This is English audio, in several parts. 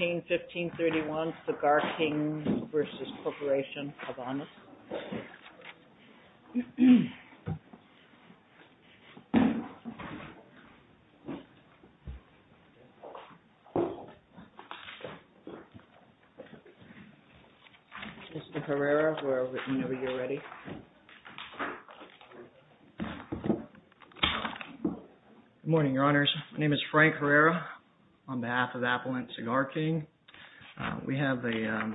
1531, Cigar King, LLC v. Corporacion Habanos. Mr. Herrera, we're over here already. Good morning, Your Honors. My name is Frank Herrera on behalf of Appellant Cigar King. We have an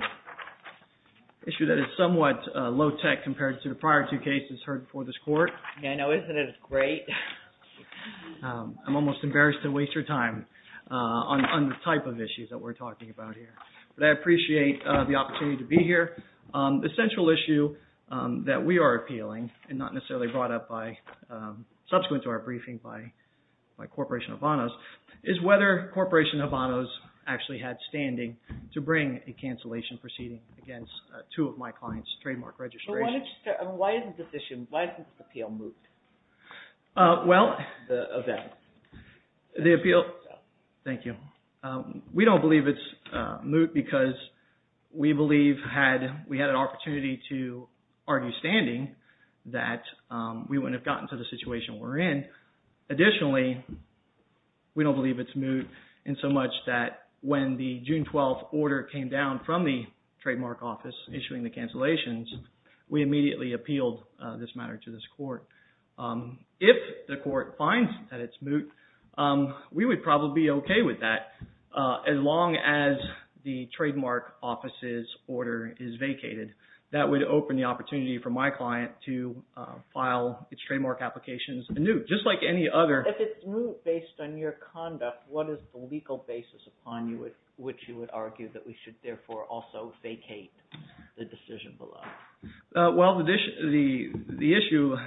issue that is somewhat low-tech compared to the prior two cases heard before this Court. I know, isn't it great? I'm almost embarrassed to waste your time on the type of issues that we're talking about here. But I appreciate the opportunity to be here. The issue that we're appealing, and not necessarily brought up by subsequent to our briefing by Corporation Habanos, is whether Corporation Habanos actually had standing to bring a cancellation proceeding against two of my clients' trademark registrations. Why is this appeal moot? Well, thank you. We don't believe it's moot because we believe we had an opportunity to argue standing that we wouldn't have gotten to the situation we're in. Additionally, we don't believe it's moot in so much that when the June 12th order came down from the trademark office issuing the cancellations, we immediately appealed this matter to this Court. If the Court finds that it's moot, we would probably be okay with that as long as the trademark office's order is vacated. That would open the opportunity for my client to file its trademark applications anew, just like any other. If it's moot based on your conduct, what is the legal basis upon which you would argue that we should therefore also vacate the decision below? Well, the issue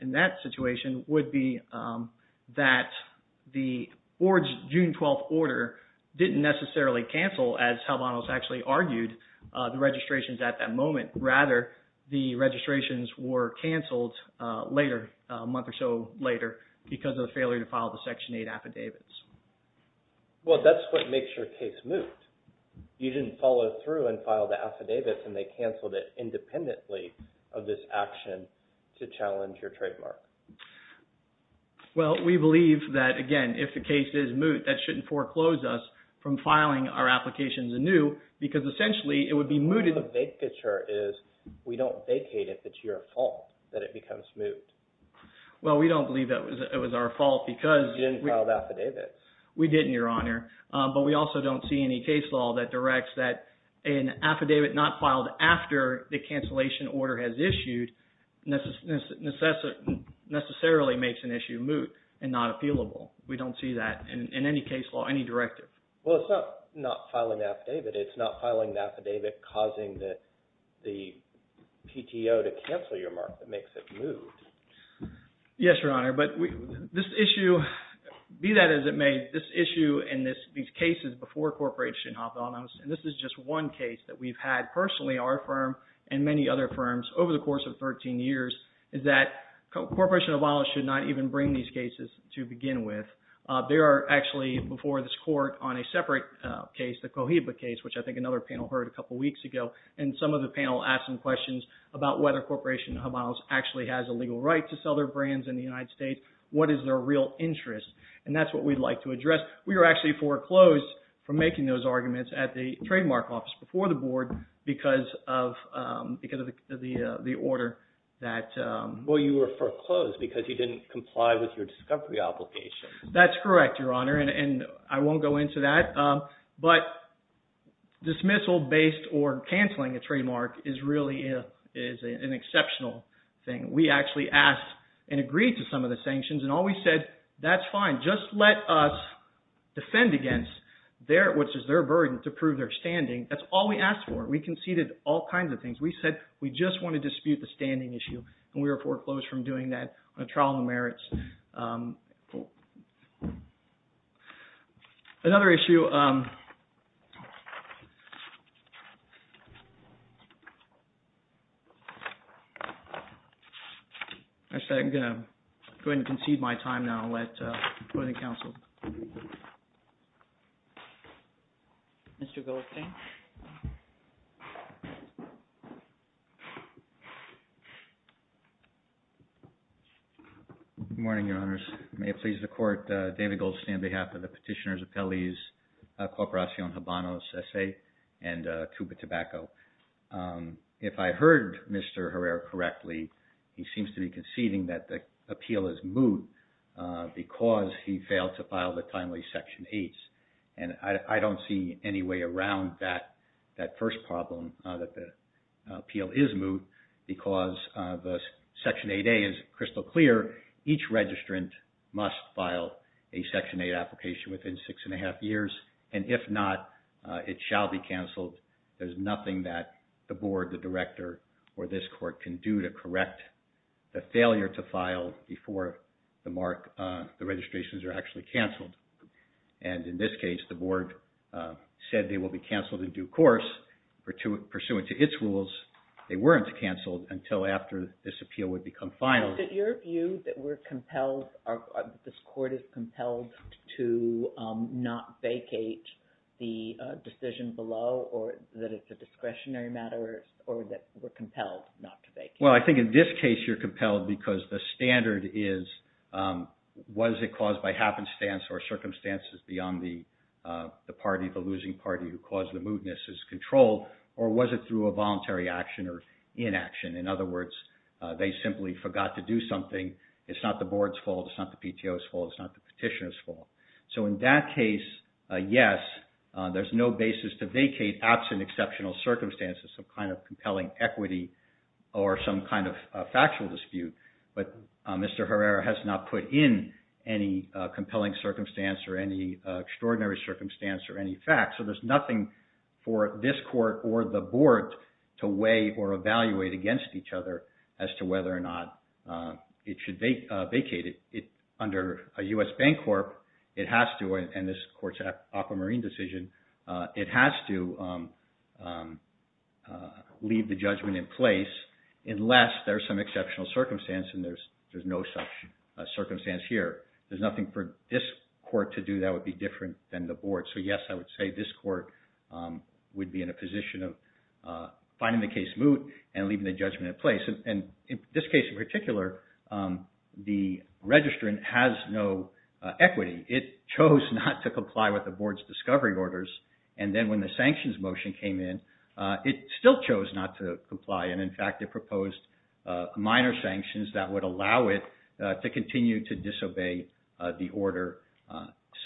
in that situation would be that the Board's June 12th order didn't necessarily cancel, as Habanos actually argued, the registrations at that moment. Rather, the registrations were canceled a month or so later because of the failure to file the Section 8 affidavits. Well, that's what makes your case moot. You didn't follow through and file the affidavits, and they canceled it independently of this action to challenge your trademark. Well, we believe that, again, if the case is moot, that shouldn't foreclose us from filing our applications anew because essentially it would be mooted. The big picture is we don't vacate it if it's your fault that it becomes moot. Well, we don't believe that it was our fault because... You didn't file the affidavits. We didn't, Your Honor, but we also don't see any case law that directs that an affidavit not filed after the cancellation order has issued necessarily makes an issue moot and not appealable. We don't see that in any case law, any directive. Well, it's not filing the affidavit. It's not filing the affidavit causing the PTO to cancel your mark that makes it moot. Yes, Your Honor, but this issue, be that as it may, this issue and these cases before Corporation Habanos, and this is just one case that we've had personally, our firm, and many other firms over the course of 13 years, is that Corporation Habanos should not even bring these cases to begin with. There are actually, before this court, on a separate case, the Cohiba case, which I think another panel heard a couple in the United States, what is their real interest? And that's what we'd like to address. We were actually foreclosed from making those arguments at the trademark office before the board because of the order that... Well, you were foreclosed because you didn't comply with your discovery obligation. That's correct, Your Honor, and I won't go into that. But dismissal based or canceling a trademark is really an exceptional thing. We actually asked and agreed to some of the sanctions, and all we said, that's fine. Just let us defend against what is their burden to prove their standing. That's all we asked for. We conceded all kinds of things. We said we just want to dispute the standing issue, and we were foreclosed from doing that on a trial of merits. Another issue – actually, I'm going to go ahead and concede my time now and let – go to the counsel. Mr. Goldstein? Good morning, Your Honors. May it please the Court, David Goldstein on behalf of the Petitioner's Appellees, Corporacion Habano S.A. and Cuba Tobacco. If I heard Mr. Herrera correctly, he seems to be conceding that the appeal is moot because he failed to file the timely Section 8s. And I don't see any way around that first problem that the appeal is moot because the Section 8a is crystal clear. Each registrant must file a Section 8 application within six and a half years, and if not, it shall be canceled. There's nothing that the Board, the Director, or this Court can do to correct the failure to file before the mark – the registrations are actually canceled. And in this case, the Board said they will be canceled in due course. Pursuant to its rules, they weren't canceled until after this appeal would become final. Is it your view that we're compelled – this Court is compelled to not vacate the decision below, or that it's a discretionary matter, or that we're compelled not to vacate? Well, I think in this case you're compelled because the standard is, was it caused by happenstance or circumstances beyond the party, the losing party, who caused the mootness is controlled, or was it through a voluntary action or inaction? In other words, they simply forgot to do something. It's not the Board's fault. It's not the PTO's fault. It's not the petitioner's fault. So in that case, yes, there's no basis to vacate absent exceptional circumstances, some kind of compelling equity or some kind of factual dispute. But Mr. Herrera has not put in any compelling circumstance or any extraordinary circumstance or any facts. So there's nothing for this Court or the Board to weigh or evaluate against each other as to whether or not it should vacate. Under a U.S. Bancorp, it has to, and this Court's aquamarine decision, it has to leave the judgment in place unless there's some exceptional circumstance, and there's no such circumstance here. There's nothing for this Court to do that would be different than the Board. So yes, I would say this Court would be in a position of finding the case moot and leaving the judgment in place. And in this case in particular, the registrant has no equity. It chose not to comply with the Board's discovery orders, and then when the sanctions motion came in, it still chose not to comply. And in fact, it proposed minor sanctions that would allow it to continue to disobey the order.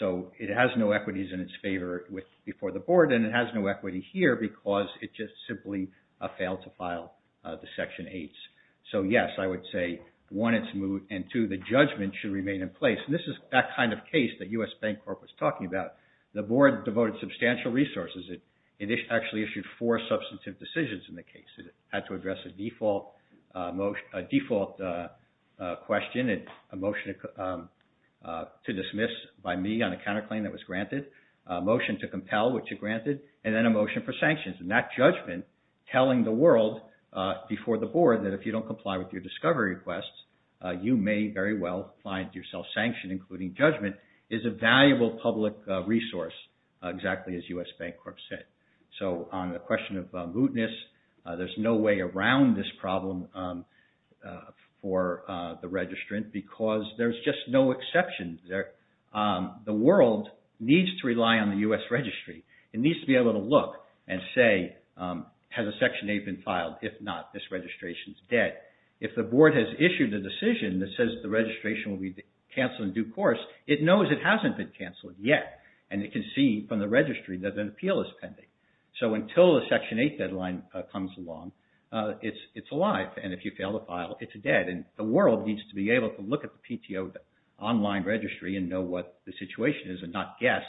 So it has no equities in its favor before the Board, and it has no equity here because it just simply failed to file the Section 8s. So yes, I would say, one, it's moot, and two, the judgment should remain in place. And this is that kind of case that U.S. Bancorp was talking about. The Board devoted substantial resources. It actually issued four substantive decisions in the case. It had to address a default question, a motion to dismiss by me on a counterclaim that was granted, a motion to compel which it granted, and then a motion for sanctions. And that judgment telling the world before the Board that if you don't comply with your discovery requests, you may very well find yourself sanctioned, including judgment, is a valuable public resource, exactly as U.S. Bancorp said. So on the question of mootness, there's no way around this problem for the registrant because there's just no exception there. The world needs to rely on the U.S. Registry. It needs to be able to look and say, has a Section 8 been filed? If not, this registration is dead. If the Board has issued a decision that says the registration will be canceled in due course, it knows it hasn't been canceled yet, and it can see from the registry that an appeal is pending. So until a Section 8 deadline comes along, it's alive. And if you fail to file, it's dead. And the world needs to be able to look at the PTO online registry and know what the situation is and not guess,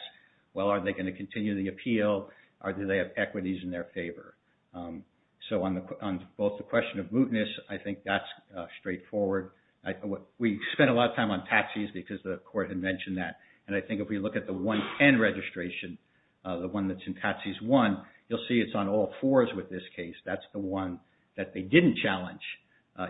well, are they going to continue the appeal or do they have equities in their favor? So on both the question of mootness, I think that's straightforward. We spent a lot of time on taxis because the Court had mentioned that. And I think if we look at the 110 registration, the one that's in Taxis 1, you'll see it's on all fours with this case. That's the one that they didn't challenge,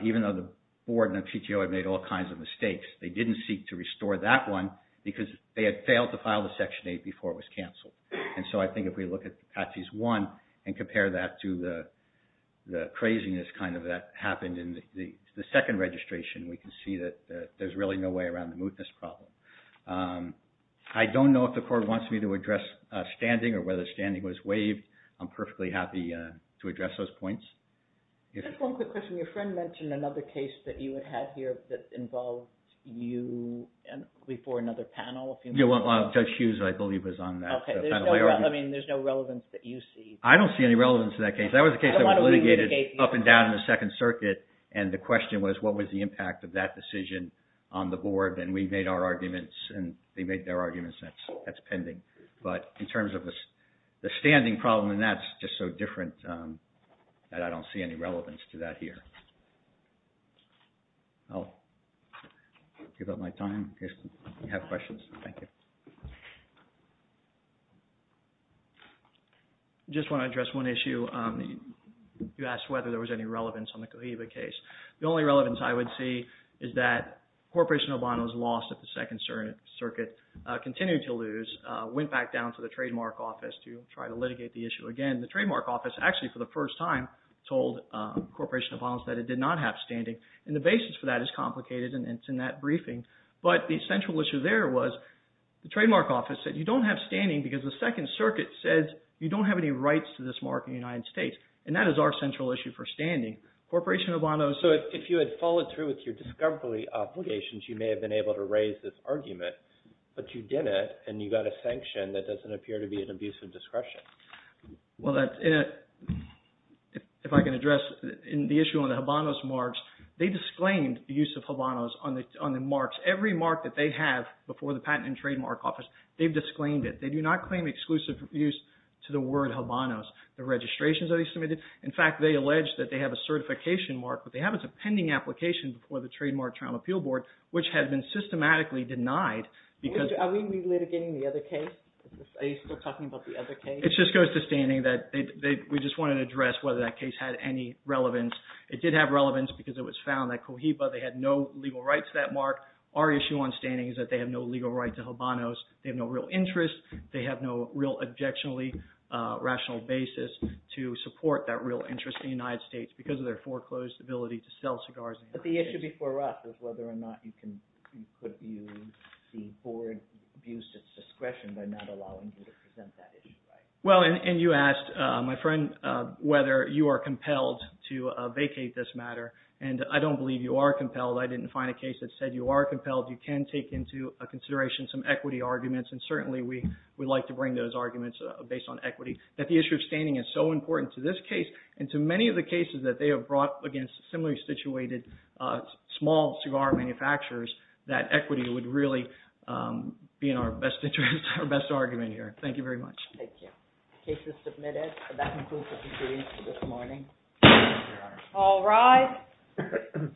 even though the Board and the PTO had made all kinds of mistakes. They didn't seek to restore that one because they had failed to file the Section 8 before it was canceled. And so I think if we look at Taxis 1 and compare that to the craziness kind of that happened in the second registration, we can see that there's really no way around the mootness problem. I don't know if the Court wants me to address standing or whether standing was waived. I'm perfectly happy to address those points. Just one quick question. Your friend mentioned another case that you had had here that involved you before another panel. Judge Hughes, I believe, was on that panel. I mean, there's no relevance that you see. I don't see any relevance to that case. That was a case that was litigated up and down in the Second Circuit and the question was, what was the impact of that decision on the Board? And we made our arguments and they made their arguments. That's pending. But in terms of the standing problem, that's just so different that I don't see any relevance to that here. I'll give up my time in case you have questions. Thank you. I just want to address one issue. You asked whether there was any relevance on the Cohiba case. The only relevance I would see is that Corporation Obanos lost at the Second Circuit, continued to lose, went back down to the Trademark Office to try to litigate the issue again. The Trademark Office actually, for the first time, told Corporation Obanos that it did not have standing, and the basis for that is complicated and it's in that briefing. But the essential issue there was the Trademark Office said you don't have standing because the Second Circuit says you don't have any rights to this mark in the United States, and that is our central issue for standing. Corporation Obanos... So if you had followed through with your discovery obligations, you may have been able to raise this argument, but you didn't and you got a sanction that doesn't appear to be an abuse of discretion. Well, if I can address the issue on the Obanos marks, they disclaimed the use of Obanos on the marks. Every mark that they have before the Patent and Trademark Office, they've disclaimed it. They do not claim exclusive use to the word Obanos. The registrations that they submitted, in fact, they allege that they have a certification mark, but they have a pending application before the Trademark Trial and Appeal Board, which has been systematically denied because... Are we litigating the other case? Are you still talking about the other case? It just goes to standing that we just wanted to address whether that case had any relevance. It did have relevance because it was found that Cohiba, they had no legal rights to that mark. Our issue on standing is that they have no legal right to Obanos. They have no real interest. They have no real objectionably rational basis to support that real interest in the United States because of their foreclosed ability to sell cigars in the United States. But the issue before us was whether or not you could use the board abuse of discretion by not allowing you to present that issue, right? Well, and you asked, my friend, whether you are compelled to vacate this matter, and I don't believe you are compelled. I didn't find a case that said you are compelled. You can take into consideration some equity arguments, and certainly we would like to bring those arguments based on equity, that the issue of standing is so important to this case and to many of the cases that they have brought against similarly situated small cigar manufacturers that equity would really be in our best interest, our best argument here. Thank you very much. Thank you. The case is submitted. That concludes the hearing for this morning. Thank you, Your Honor. All rise.